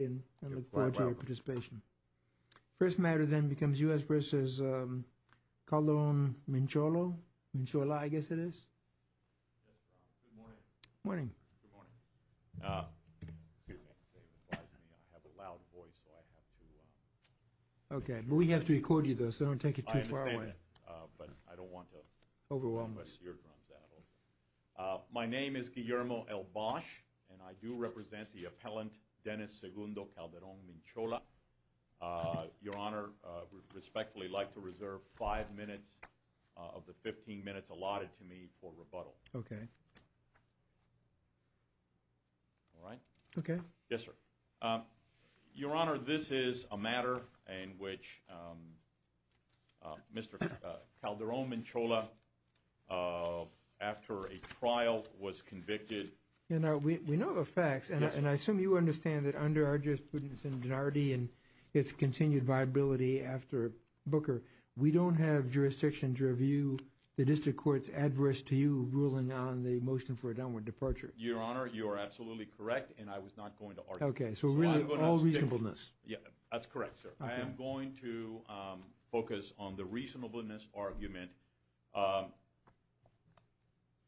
I look forward to your participation. First matter then becomes U.S. v. Calderon-Minchola. Minchola, I guess it is. Good morning. Good morning. Good morning. Excuse me. I have a loud voice, so I have to... Okay, but we have to record you, though, so don't take it too far away. I understand that, but I don't want to... Overwhelm you. ...mess your drums out. My name is Guillermo L. Bosch, and I do represent the appellant, Dennis Segundo Calderon-Minchola. Your Honor, I would respectfully like to reserve five minutes of the 15 minutes allotted to me for rebuttal. Okay. All right? Okay. Yes, sir. Your Honor, this is a matter in which Mr. Calderon-Minchola, after a trial, was convicted. We know the facts, and I assume you understand that under our jurisprudence in Denardy and its continued viability after Booker, we don't have jurisdiction to review the district court's address to you ruling on the motion for a downward departure. Your Honor, you are absolutely correct, and I was not going to argue. Okay, so all reasonableness. That's correct, sir. I am going to focus on the reasonableness argument.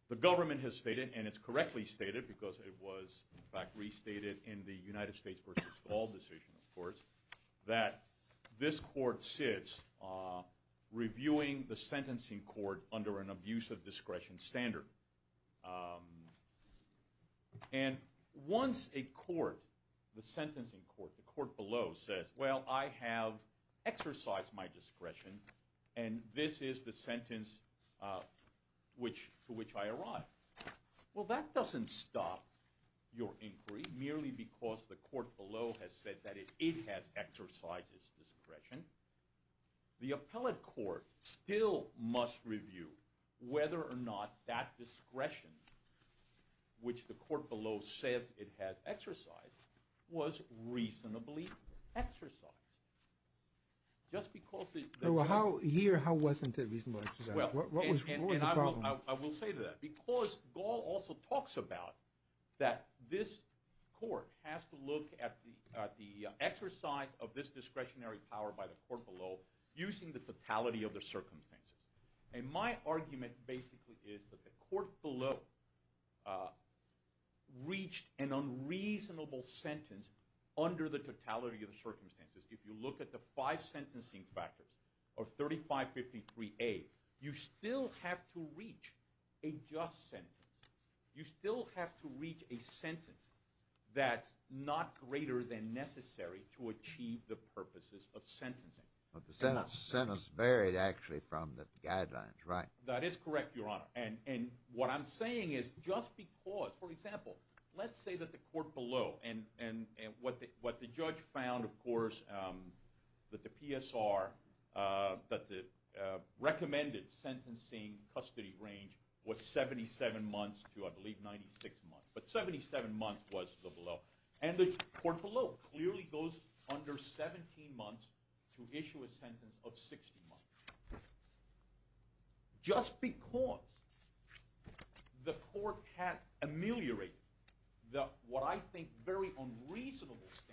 The government has stated, and it's correctly stated because it was, in fact, restated in the United States v. Ball decision, of course, that this court sits reviewing the sentencing court under an abuse of discretion standard. And once a court, the sentencing court, the court below, says, well, I have exercised my discretion, and this is the sentence to which I arrive. Well, that doesn't stop your inquiry, merely because the court below has said that it has exercised its discretion. The appellate court still must review whether or not that discretion, which the court below says it has exercised, was reasonably exercised. Here, how wasn't it reasonably exercised? What was the problem? I will say to that. Because Ball also talks about that this court has to look at the exercise of this discretionary power by the court below using the totality of the circumstances. And my argument basically is that the court below reached an unreasonable sentence under the totality of the circumstances. If you look at the five sentencing factors of 3553A, you still have to reach a just sentence. You still have to reach a sentence that's not greater than necessary to achieve the purposes of sentencing. But the sentence varied actually from the guidelines, right? That is correct, Your Honor. And what I'm saying is just because, for example, let's say that the court below, and what the judge found, of course, that the PSR, that the recommended sentencing custody range was 77 months to, I believe, 96 months. But 77 months was the below. And the court below clearly goes under 17 months to issue a sentence of 60 months. Just because the court had ameliorated what I think very unreasonable standards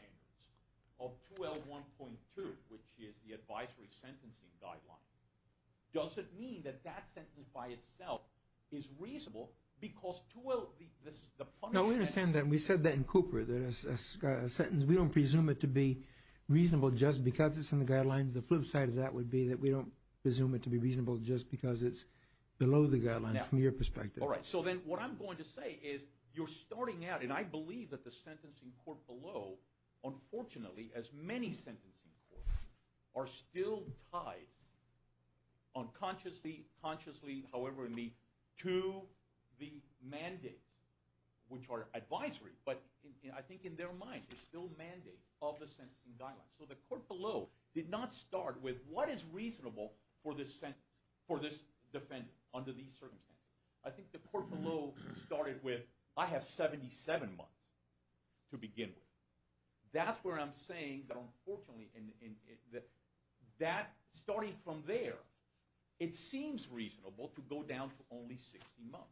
of 2L1.2, which is the advisory sentencing guideline, doesn't mean that that sentence by itself is reasonable because 2L, the punishments. No, we understand that. We said that in Cooper, that a sentence, we don't presume it to be reasonable just because it's in the guidelines. The flip side of that would be that we don't presume it to be reasonable just because it's below the guidelines from your perspective. All right. So then what I'm going to say is you're starting out, and I believe that the sentencing court below, unfortunately, as many sentencing courts are still tied unconsciously, however, to the mandates, which are advisory. But I think in their mind, it's still mandate of the sentencing guidelines. So the court below did not start with what is reasonable for this defendant under these circumstances. I think the court below started with I have 77 months to begin with. That's where I'm saying that, unfortunately, that starting from there, it seems reasonable to go down to only 60 months.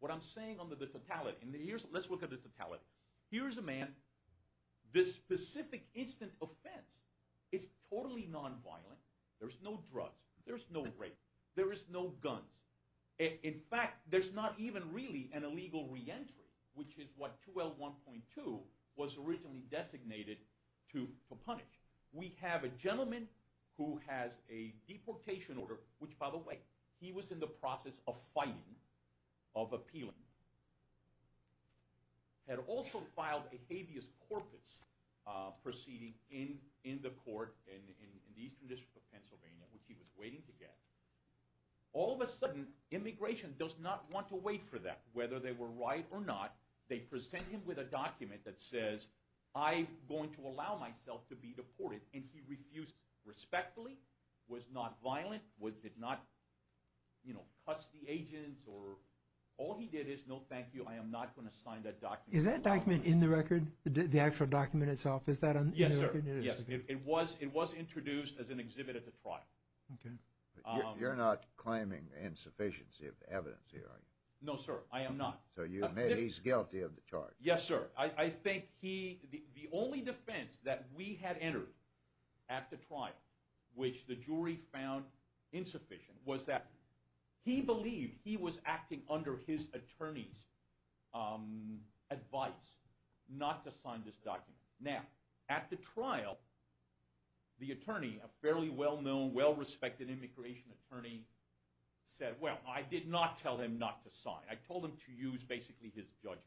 What I'm saying under the totality, let's look at the totality. Here's a man, this specific instant offense is totally nonviolent. There's no drugs. There's no rape. There is no guns. In fact, there's not even really an illegal reentry, which is what 2L1.2 was originally designated to punish. We have a gentleman who has a deportation order, which, by the way, he was in the process of fighting, of appealing, had also filed a habeas corpus proceeding in the court in the Eastern District of Pennsylvania, which he was waiting to get. All of a sudden, immigration does not want to wait for that. Whether they were right or not, they present him with a document that says, I'm going to allow myself to be deported, and he refused respectfully, was not violent, did not cuss the agent. All he did is, no, thank you, I am not going to sign that document. Is that document in the record, the actual document itself? Yes, sir. It was introduced as an exhibit at the trial. You're not claiming insufficiency of evidence here, are you? No, sir, I am not. So you admit he's guilty of the charge? Yes, sir. I think the only defense that we had entered at the trial, which the jury found insufficient, was that he believed he was acting under his attorney's advice not to sign this document. Now, at the trial, the attorney, a fairly well-known, well-respected immigration attorney, said, well, I did not tell him not to sign. I told him to use basically his judgment.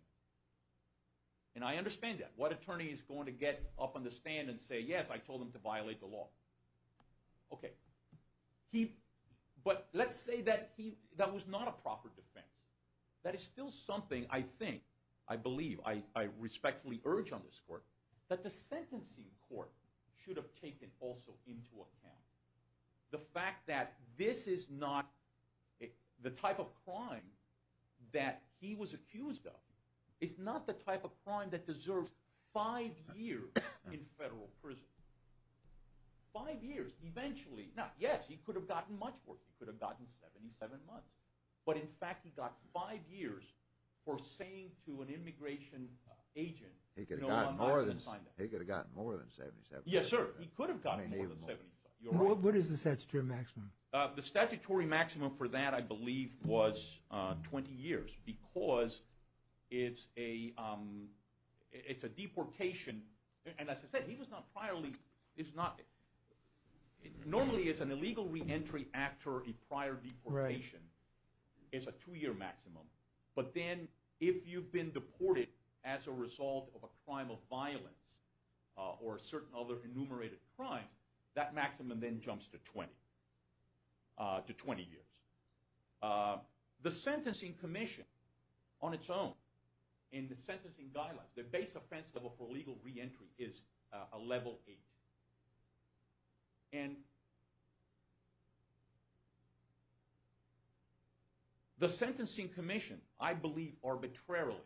And I understand that. What attorney is going to get up on the stand and say, yes, I told him to violate the law? Okay. But let's say that was not a proper defense. That is still something I think, I believe, I respectfully urge on this court, that the sentencing court should have taken also into account. The fact that this is not the type of crime that he was accused of is not the type of crime that deserves five years in federal prison. Five years, eventually. Now, yes, he could have gotten much worse. He could have gotten 77 months. But, in fact, he got five years for saying to an immigration agent, no, I'm not going to sign that. He could have gotten more than 77 months. Yes, sir. He could have gotten more than 75. What is the statutory maximum? The statutory maximum for that, I believe, was 20 years because it's a deportation. And as I said, he was not priorly – normally it's an illegal reentry after a prior deportation. It's a two-year maximum. But then if you've been deported as a result of a crime of violence or certain other enumerated crimes, that maximum then jumps to 20 years. The Sentencing Commission, on its own, in the sentencing guidelines, their base offense level for illegal reentry is a level eight. And the Sentencing Commission, I believe arbitrarily,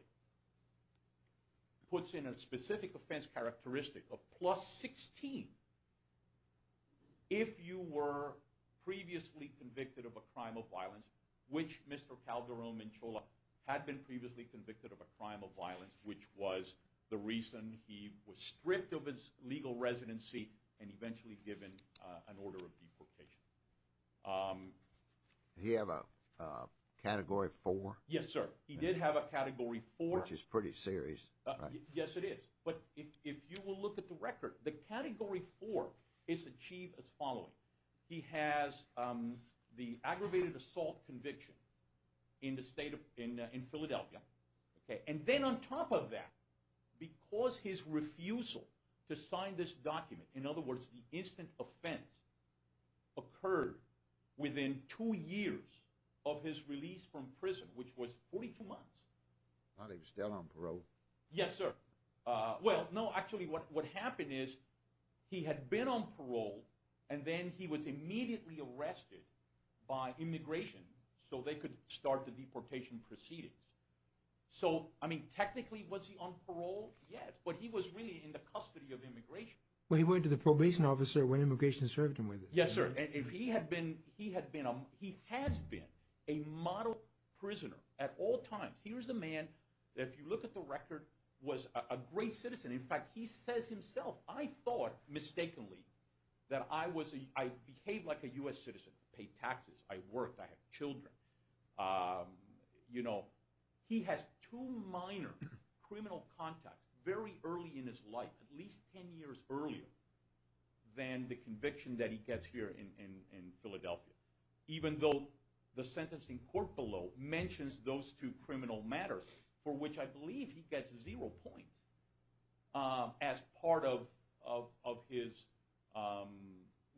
puts in a specific offense characteristic of plus 16 if you were previously convicted of a crime of violence, which Mr. Calderon Menchola had been previously convicted of a crime of violence, which was the reason he was stripped of his legal residency and eventually given an order of deportation. Did he have a Category 4? Yes, sir. He did have a Category 4. Which is pretty serious. Yes, it is. But if you will look at the record, the Category 4 is achieved as following. He has the aggravated assault conviction in Philadelphia. And then on top of that, because his refusal to sign this document, in other words, the instant offense, occurred within two years of his release from prison, which was 42 months. While he was still on parole? Yes, sir. Well, no, actually what happened is he had been on parole and then he was immediately arrested by immigration so they could start the deportation proceedings. So, I mean, technically was he on parole? Yes, but he was really in the custody of immigration. Well, he went to the probation officer when immigration served him with it. Yes, sir. He has been a model prisoner at all times. Here's a man that, if you look at the record, was a great citizen. In fact, he says himself, I thought mistakenly that I behaved like a U.S. citizen. I paid taxes. I worked. I had children. You know, he has two minor criminal contacts very early in his life, at least 10 years earlier than the conviction that he gets here in Philadelphia. Even though the sentence in court below mentions those two criminal matters for which I believe he gets zero points as part of his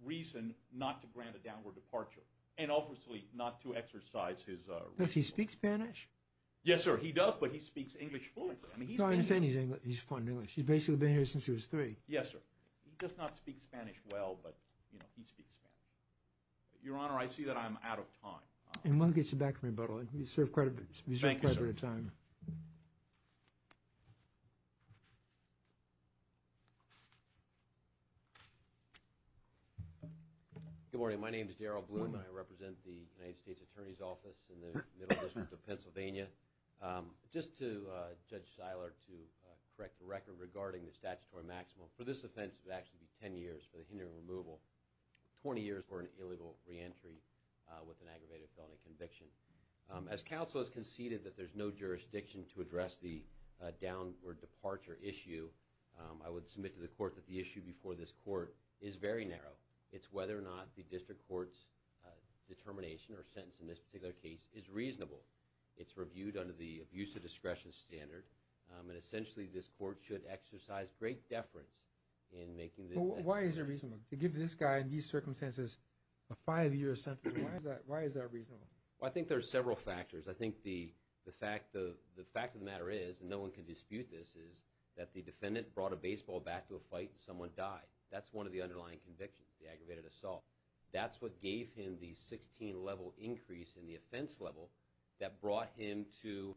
reason not to grant a downward departure and obviously not to exercise his rights. Does he speak Spanish? Yes, sir. He does, but he speaks English fluently. He's fine in English. He's basically been here since he was three. Yes, sir. He does not speak Spanish well, but he speaks Spanish. Your Honor, I see that I'm out of time. We'll get you back from rebuttal. You served quite a bit of time. Thank you, sir. Good morning. My name is Darrell Bloom, and I represent the United States Attorney's Office in the Middle District of Pennsylvania. Just to Judge Seiler to correct the record regarding the statutory maximum, for this offense it would actually be 10 years for the hindering removal, 20 years for an illegal reentry with an aggravated felony conviction. As counsel has conceded that there's no jurisdiction to address the downward departure issue, I would submit to the court that the issue before this court is very narrow. It's whether or not the district court's determination or sentence in this particular case is reasonable. It's reviewed under the abuse of discretion standard, and essentially this court should exercise great deference in making the decision. Why is it reasonable to give this guy in these circumstances a five-year sentence? Why is that reasonable? Well, I think there are several factors. I think the fact of the matter is, and no one can dispute this, is that the defendant brought a baseball back to a fight and someone died. That's one of the underlying convictions, the aggravated assault. That's what gave him the 16-level increase in the offense level that brought him to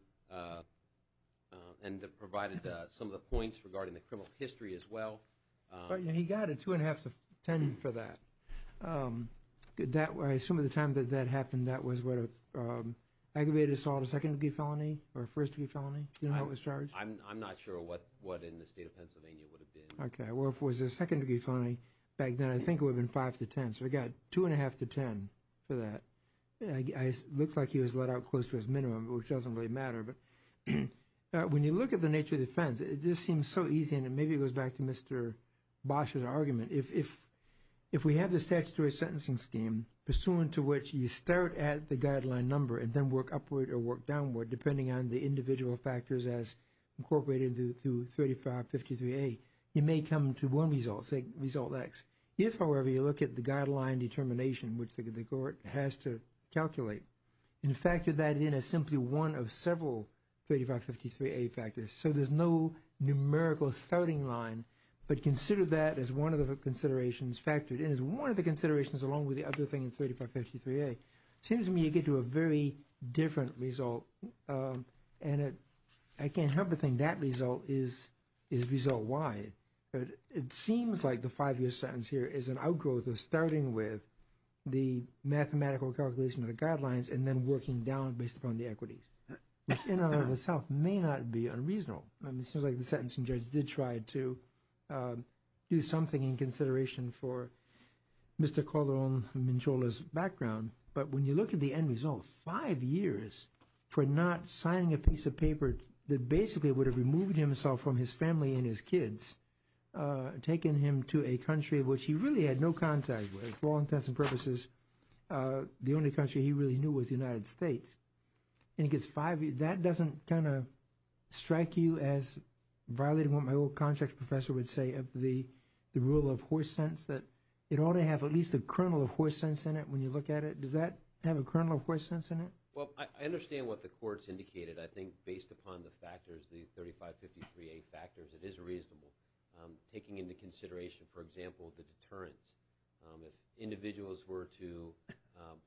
and provided some of the points regarding the criminal history as well. He got a two-and-a-half to 10 for that. I assume at the time that that happened that was what an aggravated assault, a second-degree felony or a first-degree felony? Do you know how it was charged? I'm not sure what in the state of Pennsylvania it would have been. Okay. Well, if it was a second-degree felony back then, I think it would have been five to 10. So he got two-and-a-half to 10 for that. It looks like he was let out close to his minimum, which doesn't really matter. But when you look at the nature of the offense, it just seems so easy, and maybe it goes back to Mr. Bosch's argument. If we have the statutory sentencing scheme, pursuant to which you start at the guideline number and then work upward or work downward, depending on the individual factors as incorporated through 3553A, you may come to one result, say result X. If, however, you look at the guideline determination, which the court has to calculate and factor that in as simply one of several 3553A factors, so there's no numerical starting line, but consider that as one of the considerations factored in, as one of the considerations along with the other thing in 3553A, it seems to me you get to a very different result, and I can't help but think that result is result Y. It seems like the five-year sentence here is an outgrowth of starting with the mathematical calculation of the guidelines and then working down based upon the equities, which in and of itself may not be unreasonable. It seems like the sentencing judge did try to do something in consideration for Mr. Calderon-Manchola's background, but when you look at the end result, five years for not signing a piece of paper that basically would have removed himself from his family and his kids, taken him to a country which he really had no contact with, for all intents and purposes, the only country he really knew was the United States, and he gets five years, that doesn't kind of strike you as violating what my old contract professor would say of the rule of horse sense, that it ought to have at least a kernel of horse sense in it when you look at it. Does that have a kernel of horse sense in it? Well, I understand what the courts indicated. I think based upon the factors, the 3553A factors, it is reasonable. Taking into consideration, for example, the deterrence, if individuals were to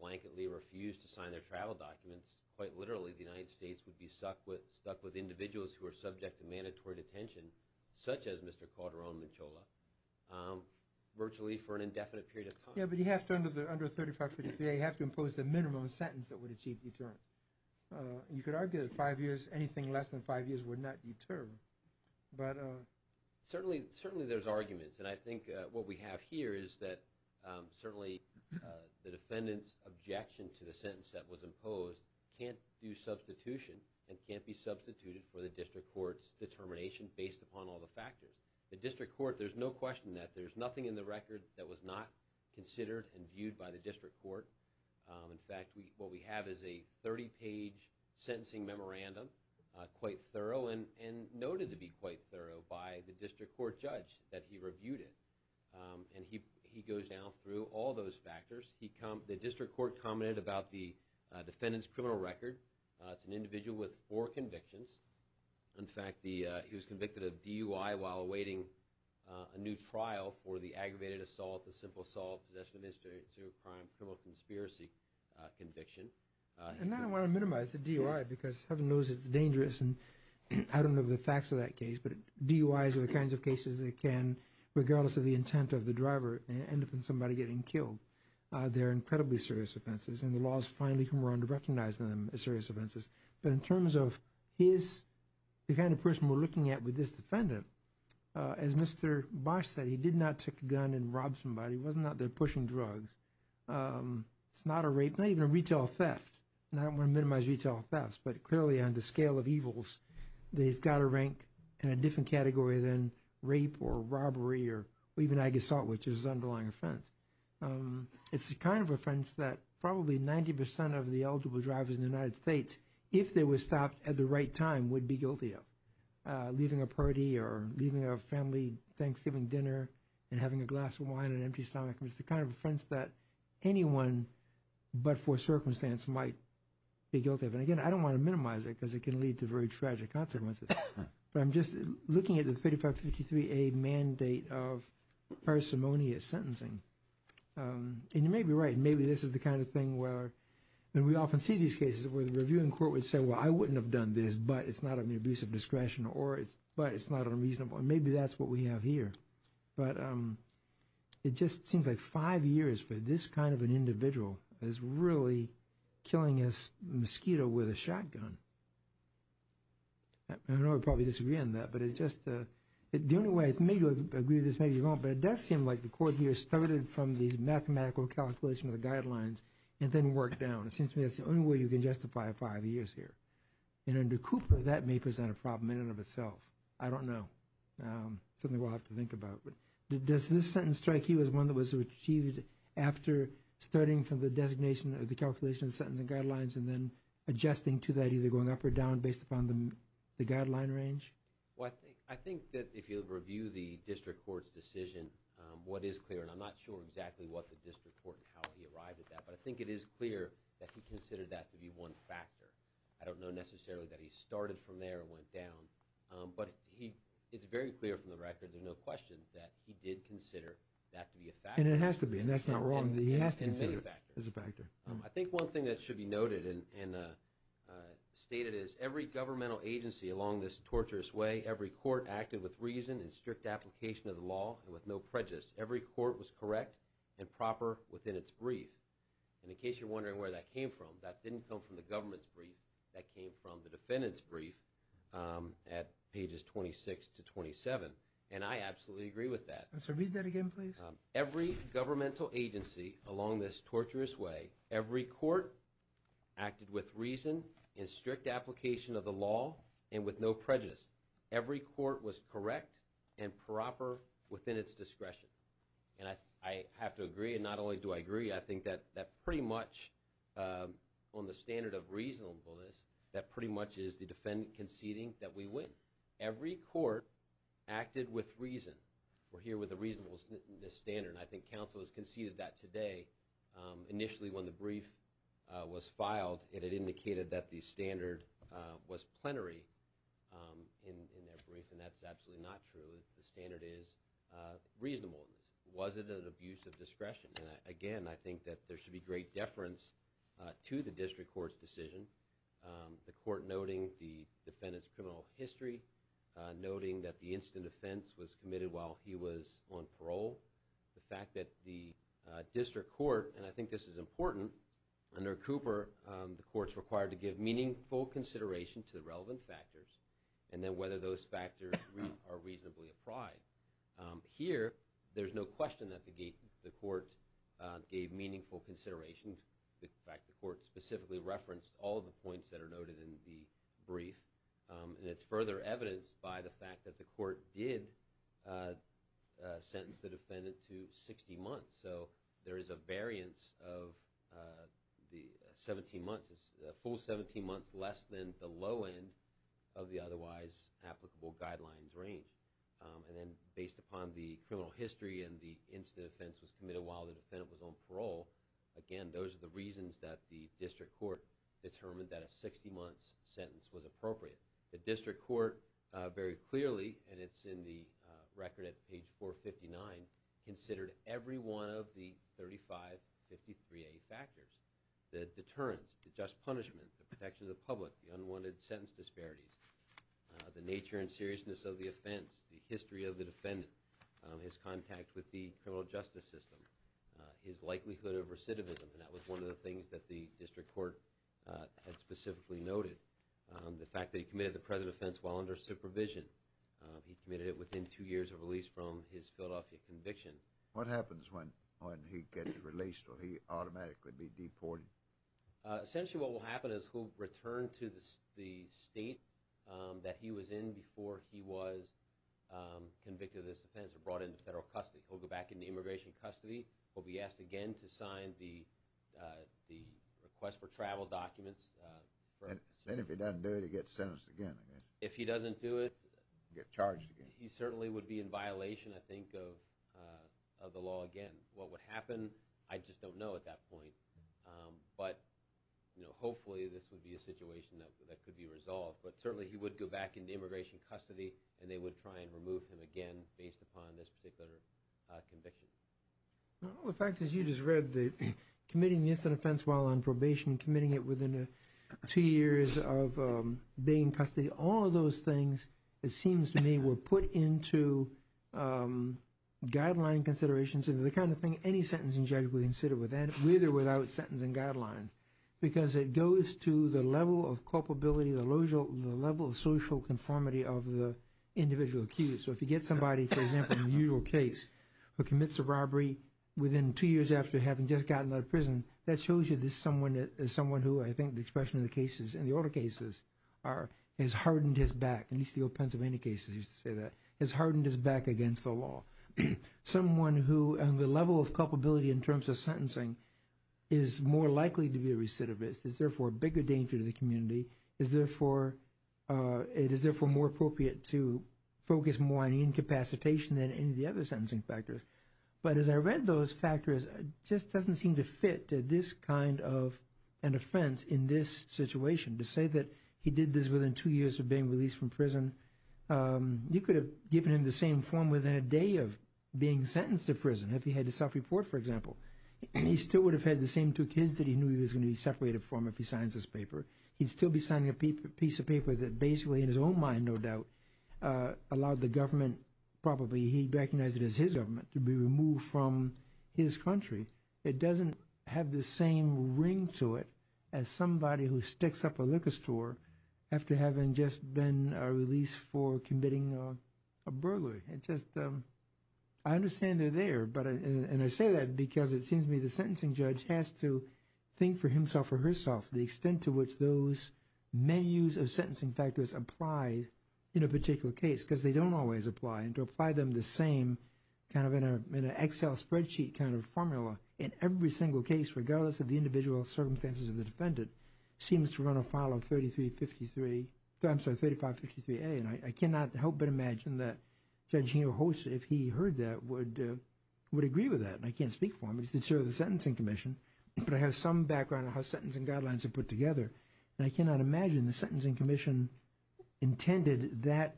blanketly refuse to sign their travel documents, quite literally the United States would be stuck with individuals who are subject to mandatory detention, such as Mr. Calderon-Manchola, virtually for an indefinite period of time. Yeah, but you have to, under 3553A, you have to impose the minimum sentence that would achieve deterrent. You could argue that five years, anything less than five years, would not deter. Certainly there's arguments, and I think what we have here is that certainly the defendant's objection to the sentence that was imposed can't do substitution and can't be substituted for the district court's determination based upon all the factors. The district court, there's no question that there's nothing in the record that was not considered and viewed by the district court. In fact, what we have is a 30-page sentencing memorandum, quite thorough, and noted to be quite thorough by the district court judge that he reviewed it. And he goes down through all those factors. The district court commented about the defendant's criminal record. It's an individual with four convictions. In fact, he was convicted of DUI while awaiting a new trial for the aggravated assault, the simple assault, possession of a serious crime, criminal conspiracy conviction. And I don't want to minimize the DUI because heaven knows it's dangerous, and I don't know the facts of that case, but DUIs are the kinds of cases that can, regardless of the intent of the driver, end up in somebody getting killed. They're incredibly serious offenses, and the law has finally come around to recognizing them as serious offenses. But in terms of his, the kind of person we're looking at with this defendant, as Mr. Bosch said, he did not take a gun and rob somebody. He wasn't out there pushing drugs. It's not a rape, not even a retail theft. And I don't want to minimize retail thefts, but clearly on the scale of evils, they've got to rank in a different category than rape or robbery or even ag assault, which is his underlying offense. It's the kind of offense that probably 90% of the eligible drivers in the United States, if they were stopped at the right time, would be guilty of, leaving a party or leaving a family Thanksgiving dinner and having a glass of wine and an empty stomach. It's the kind of offense that anyone but for circumstance might be guilty of. And again, I don't want to minimize it because it can lead to very tragic consequences. But I'm just looking at the 3553A mandate of parsimonious sentencing. And you may be right. Maybe this is the kind of thing where, and we often see these cases where the reviewing court would say, well, I wouldn't have done this, but it's not an abuse of discretion or it's, but it's not unreasonable. And maybe that's what we have here. But it just seems like five years for this kind of an individual is really killing this mosquito with a shotgun. I know we probably disagree on that, but it's just, the only way, maybe you agree with this, maybe you don't, but it does seem like the court here started from these mathematical calculations of the guidelines and then worked down. It seems to me that's the only way you can justify five years here. And under Cooper, that may present a problem in and of itself. I don't know. It's something we'll have to think about. But does this sentence strike you as one that was achieved after starting from the designation or the calculation of the sentencing guidelines and then adjusting to that, either going up or down based upon the guideline range? Well, I think that if you review the district court's decision, what is clear, and I'm not sure exactly what the district court and how he arrived at that, but I think it is clear that he considered that to be one factor. I don't know necessarily that he started from there and went down, but it's very clear from the record, there's no question that he did consider that to be a factor. And it has to be, and that's not wrong. He has to consider it as a factor. I think one thing that should be noted and stated is every governmental agency along this torturous way, every court acted with reason and strict application of the law and with no prejudice. Every court was correct and proper within its brief. And in case you're wondering where that came from, that didn't come from the government's brief. That came from the defendant's brief at pages 26 to 27. And I absolutely agree with that. So read that again, please. Every governmental agency along this torturous way, every court acted with reason and strict application of the law and with no prejudice. Every court was correct and proper within its discretion. And I have to agree, and not only do I agree, I think that pretty much on the standard of reasonableness, that pretty much is the defendant conceding that we win. Every court acted with reason. We're here with a reasonableness standard, and I think counsel has conceded that today. Initially when the brief was filed, it had indicated that the standard was plenary in their brief, and that's absolutely not true. The standard is reasonableness. Was it an abuse of discretion? And, again, I think that there should be great deference to the district court's decision, the court noting the defendant's criminal history, noting that the incident of offense was committed while he was on parole, the fact that the district court, and I think this is important, under Cooper, the court's required to give meaningful consideration to the relevant factors and then whether those factors are reasonably applied. Here, there's no question that the court gave meaningful consideration. In fact, the court specifically referenced all of the points that are noted in the brief, and it's further evidenced by the fact that the court did sentence the defendant to 60 months. So there is a variance of the 17 months, a full 17 months less than the low end of the otherwise applicable guidelines range. And then based upon the criminal history and the incident of offense was committed while the defendant was on parole, again, those are the reasons that the district court determined that a 60 months sentence was appropriate. The district court very clearly, and it's in the record at page 459, considered every one of the 3553A factors, the deterrence, the just punishment, the protection of the public, the unwanted sentence disparities, the nature and seriousness of the offense, the history of the defendant, his contact with the criminal justice system, his likelihood of recidivism, and that was one of the things that the district court had specifically noted. The fact that he committed the present offense while under supervision. He committed it within two years of release from his Philadelphia conviction. What happens when he gets released? Will he automatically be deported? Essentially, what will happen is he'll return to the state that he was in before he was convicted of this offense or brought into federal custody. He'll go back into immigration custody. He'll be asked again to sign the request for travel documents. And if he doesn't do it, he gets sentenced again, I guess. If he doesn't do it, he certainly would be in violation, I think, of the law again. What would happen, I just don't know at that point. But certainly he would go back into immigration custody and they would try and remove him again based upon this particular conviction. In fact, as you just read, committing the instant offense while on probation, committing it within two years of being in custody, all of those things, it seems to me, were put into guideline considerations and the kind of thing any sentencing judge would consider with or without sentencing guidelines because it goes to the level of culpability, the level of social conformity of the individual accused. So if you get somebody, for example, in a usual case, who commits a robbery within two years after having just gotten out of prison, that shows you this is someone who, I think the expression of the cases in the older cases, has hardened his back, at least the old Pennsylvania cases used to say that, has hardened his back against the law. Someone who, on the level of culpability in terms of sentencing, is more likely to be a recidivist, is therefore a bigger danger to the community, it is therefore more appropriate to focus more on incapacitation than any of the other sentencing factors. But as I read those factors, it just doesn't seem to fit to this kind of an offense in this situation. To say that he did this within two years of being released from prison, you could have given him the same form within a day of being sentenced to prison, if he had to self-report, for example. He still would have had the same two kids that he knew he was going to be separated from if he signs this paper. He'd still be signing a piece of paper that basically, in his own mind, no doubt, allowed the government, probably he recognized it as his government, to be removed from his country. It doesn't have the same ring to it as somebody who sticks up a liquor store after having just been released for committing a burglary. I understand they're there, and I say that because it seems to me the sentencing judge has to think for himself or herself the extent to which those menus of sentencing factors apply in a particular case, because they don't always apply. To apply them the same, kind of in an Excel spreadsheet kind of formula in every single case, regardless of the individual circumstances of the defendant, seems to run afoul of 3553A. I cannot help but imagine that Judge Hinojosa, if he heard that, would agree with that. I can't speak for him. He's the chair of the Sentencing Commission. But I have some background on how sentencing guidelines are put together. And I cannot imagine the Sentencing Commission intended that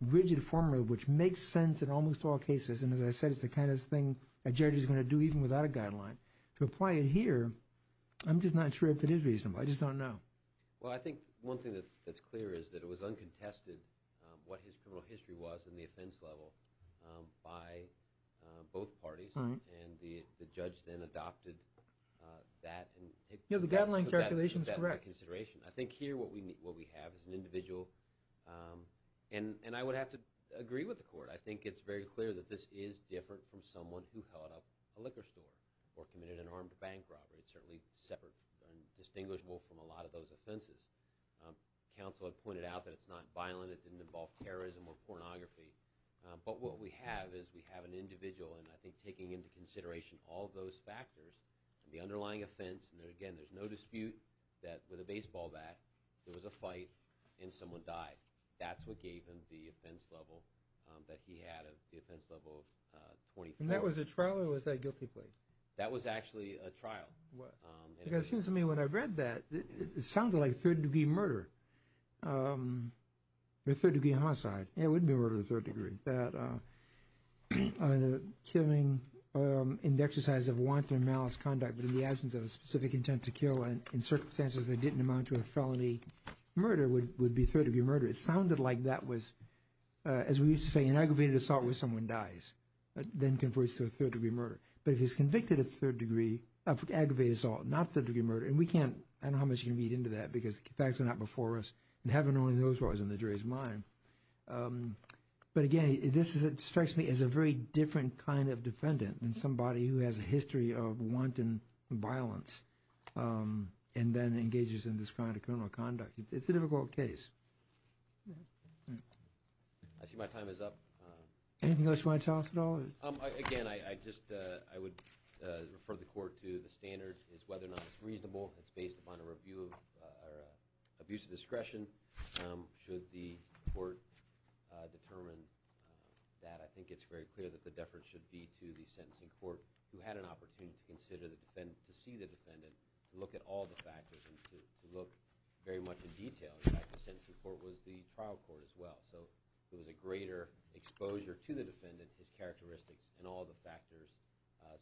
rigid formula, which makes sense in almost all cases, and as I said, it's the kind of thing a judge is going to do even without a guideline. To apply it here, I'm just not sure if it is reasonable. I just don't know. Well, I think one thing that's clear is that it was uncontested what his criminal history was in the offense level by both parties. And the judge then adopted that. Yeah, the guideline calculation is correct. I think here what we have is an individual. And I would have to agree with the court. I think it's very clear that this is different from someone who held up a liquor store or committed an armed bank robbery. It's certainly separate and distinguishable from a lot of those offenses. Counsel had pointed out that it's not violent. It didn't involve terrorism or pornography. But what we have is we have an individual, and I think taking into consideration all of those factors, the underlying offense, and again, there's no dispute that with a baseball bat, there was a fight and someone died. That's what gave him the offense level that he had of the offense level of 25. And that was a trial or was that a guilty plea? That was actually a trial. Because it seems to me when I read that, it sounded like third-degree murder or third-degree homicide. Yeah, it would be murder to a third degree. Killing in the exercise of wanton malice conduct but in the absence of a specific intent to kill and in circumstances that didn't amount to a felony murder would be third-degree murder. It sounded like that was, as we used to say, an aggravated assault where someone dies. Then converts to a third-degree murder. But if he's convicted of aggravated assault, not third-degree murder, and we can't, I don't know how much you can read into that because the facts are not before us, and heaven only knows what was in the jury's mind. But again, this strikes me as a very different kind of defendant than somebody who has a history of wanton violence and then engages in this kind of criminal conduct. It's a difficult case. I see my time is up. Anything else you want to tell us at all? Again, I just, I would refer the court to the standard is whether or not it's reasonable. It's based upon a review of abuse of discretion should the court determine that. I think it's very clear that the deference should be to the sentencing court who had an opportunity to consider the defendant, to see the defendant, to look at all the factors and to look very much in detail. In fact, the sentencing court was the trial court as well. So there was a greater exposure to the defendant, his characteristics, and all the factors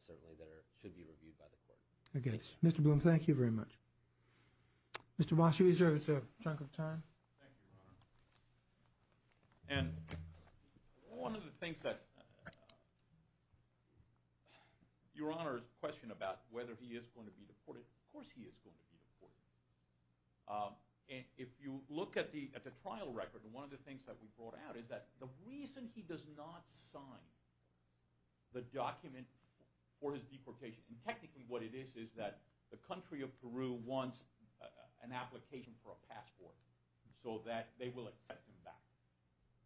certainly that should be reviewed by the court. Okay. Mr. Bloom, thank you very much. Mr. Washoe, is there a chunk of time? Thank you, Your Honor. And one of the things that Your Honor's question about whether he is going to be deported, of course he is going to be deported. If you look at the trial record, one of the things that we brought out is that the reason he does not sign the document for his deportation, and technically what it is is that the country of Peru wants an application for a passport so that they will accept him back.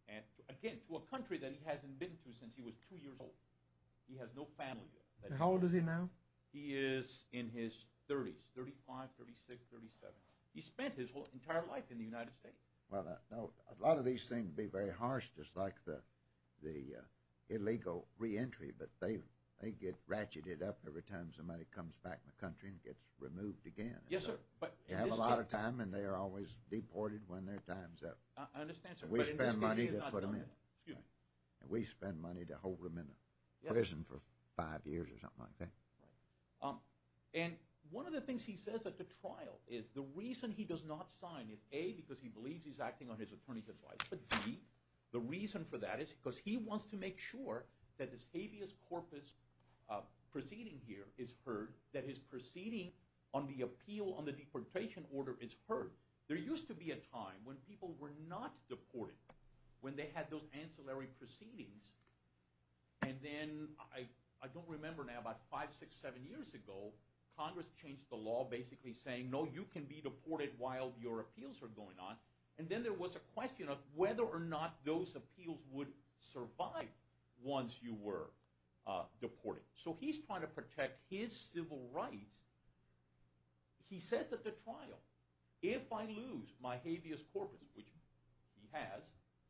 And again, to a country that he hasn't been to since he was two years old. He has no family there. How old is he now? He is in his 30s, 35, 36, 37. He spent his entire life in the United States. A lot of these seem to be very harsh just like the illegal reentry, but they get ratcheted up every time somebody comes back in the country and gets removed again. Yes, sir. You have a lot of time and they are always deported when their time is up. I understand, sir. We spend money to put them in. We spend money to hold them in prison for five years or something like that. And one of the things he says at the trial is the reason he does not sign is A, because he believes he is acting on his attorney's advice, but B, the reason for that is because he wants to make sure that this habeas corpus proceeding here is heard, that his proceeding on the appeal on the deportation order is heard. There used to be a time when people were not deported, when they had those ancillary proceedings, and then I don't remember now, about five, six, seven years ago, Congress changed the law basically saying, no, you can be deported while your appeals are going on. And then there was a question of whether or not those appeals would survive once you were deported. So he's trying to protect his civil rights. He says at the trial, if I lose my habeas corpus, which he has.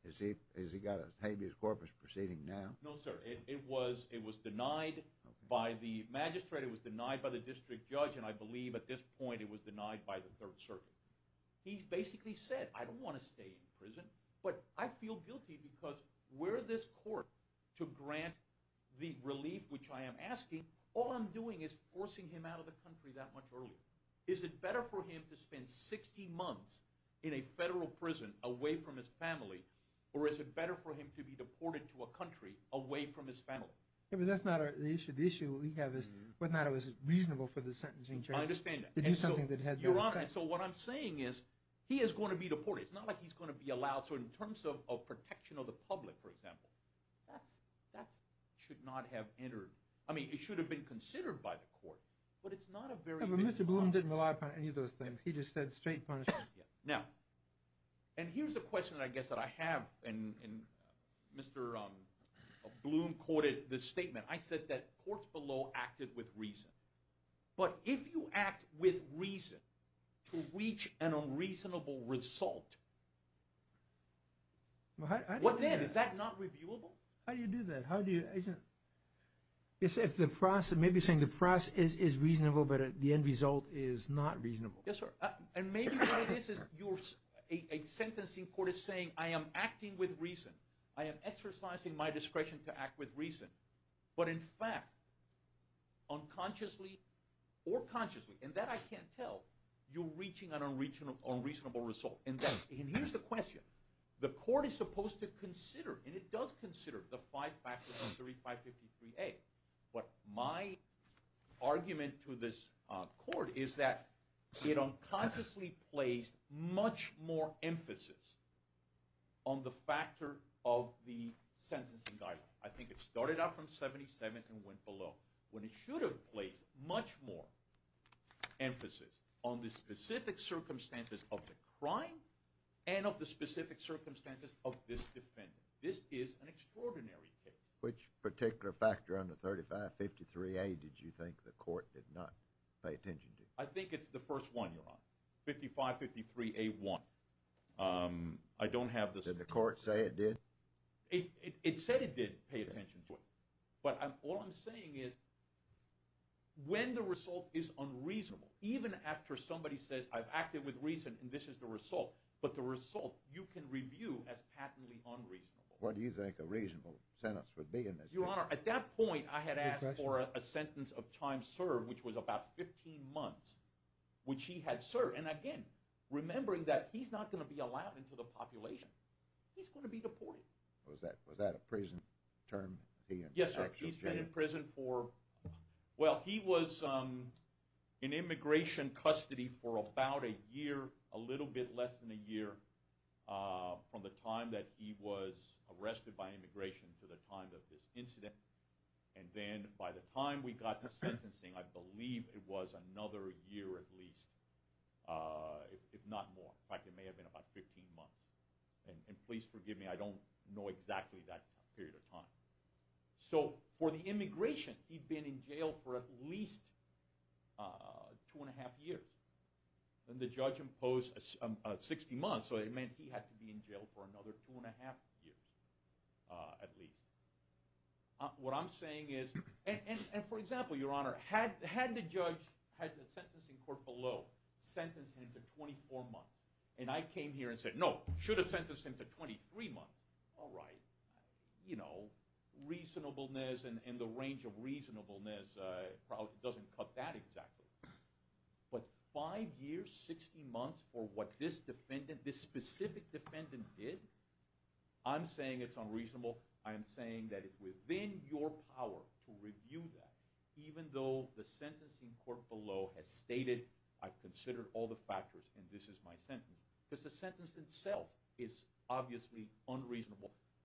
Has he got a habeas corpus proceeding now? No, sir. It was denied by the magistrate, it was denied by the district judge, and I believe at this point it was denied by the Third Circuit. He's basically said, I don't want to stay in prison, but I feel guilty because where this court to grant the relief, which I am asking, all I'm doing is forcing him out of the country that much earlier. Is it better for him to spend 60 months in a federal prison away from his family, or is it better for him to be deported to a country away from his family? But that's not the issue. The issue we have is whether or not it was reasonable for the sentencing judge to do something that had no effect. And so what I'm saying is he is going to be deported. It's not like he's going to be allowed. So in terms of protection of the public, for example, that should not have entered. I mean, it should have been considered by the court, but it's not a very reasonable option. But Mr. Bloom didn't rely upon any of those things. He just said straight punishment. Now, and here's a question, I guess, that I have, and Mr. Bloom quoted this statement. I said that courts below acted with reason. But if you act with reason to reach an unreasonable result, what then? Is that not reviewable? How do you do that? How do you – isn't it – it's the process. Maybe you're saying the process is reasonable, but the end result is not reasonable. Yes, sir. And maybe part of this is a sentencing court is saying I am acting with reason. I am exercising my discretion to act with reason. But in fact, unconsciously or consciously, and that I can't tell, you're reaching an unreasonable result. And here's the question. The court is supposed to consider, and it does consider, the five factors of 3553A. But my argument to this court is that it unconsciously placed much more emphasis on the factor of the sentencing guideline. I think it started out from 77 and went below. When it should have placed much more emphasis on the specific circumstances of the crime and of the specific circumstances of this defendant. This is an extraordinary case. Which particular factor on the 3553A did you think the court did not pay attention to? I think it's the first one, Your Honor. 5553A1. I don't have the – Did the court say it did? It said it did pay attention to it. But all I'm saying is when the result is unreasonable, even after somebody says I've acted with reason and this is the result, but the result you can review as patently unreasonable. What do you think a reasonable sentence would be in this case? Your Honor, at that point I had asked for a sentence of time served, which was about 15 months, which he had served. And again, remembering that he's not going to be allowed into the population. He's going to be deported. Was that a prison term? Yes, he's been in prison for – well, he was in immigration custody for about a year, a little bit less than a year, from the time that he was arrested by immigration to the time of this incident. And then by the time we got to sentencing, I believe it was another year at least, if not more. In fact, it may have been about 15 months. And please forgive me. I don't know exactly that period of time. So for the immigration, he'd been in jail for at least two and a half years. Then the judge imposed 60 months, so it meant he had to be in jail for another two and a half years at least. What I'm saying is – and for example, Your Honor, had the judge – had the sentencing court below sentenced him to 24 months, and I came here and said, no, should have sentenced him to 23 months. All right, reasonableness and the range of reasonableness probably doesn't cut that exactly. But five years, 60 months for what this defendant, this specific defendant did, I'm saying it's unreasonable. I am saying that it's within your power to review that, even though the sentencing court below has stated, I've considered all the factors and this is my sentence. Because the sentence itself is obviously unreasonable.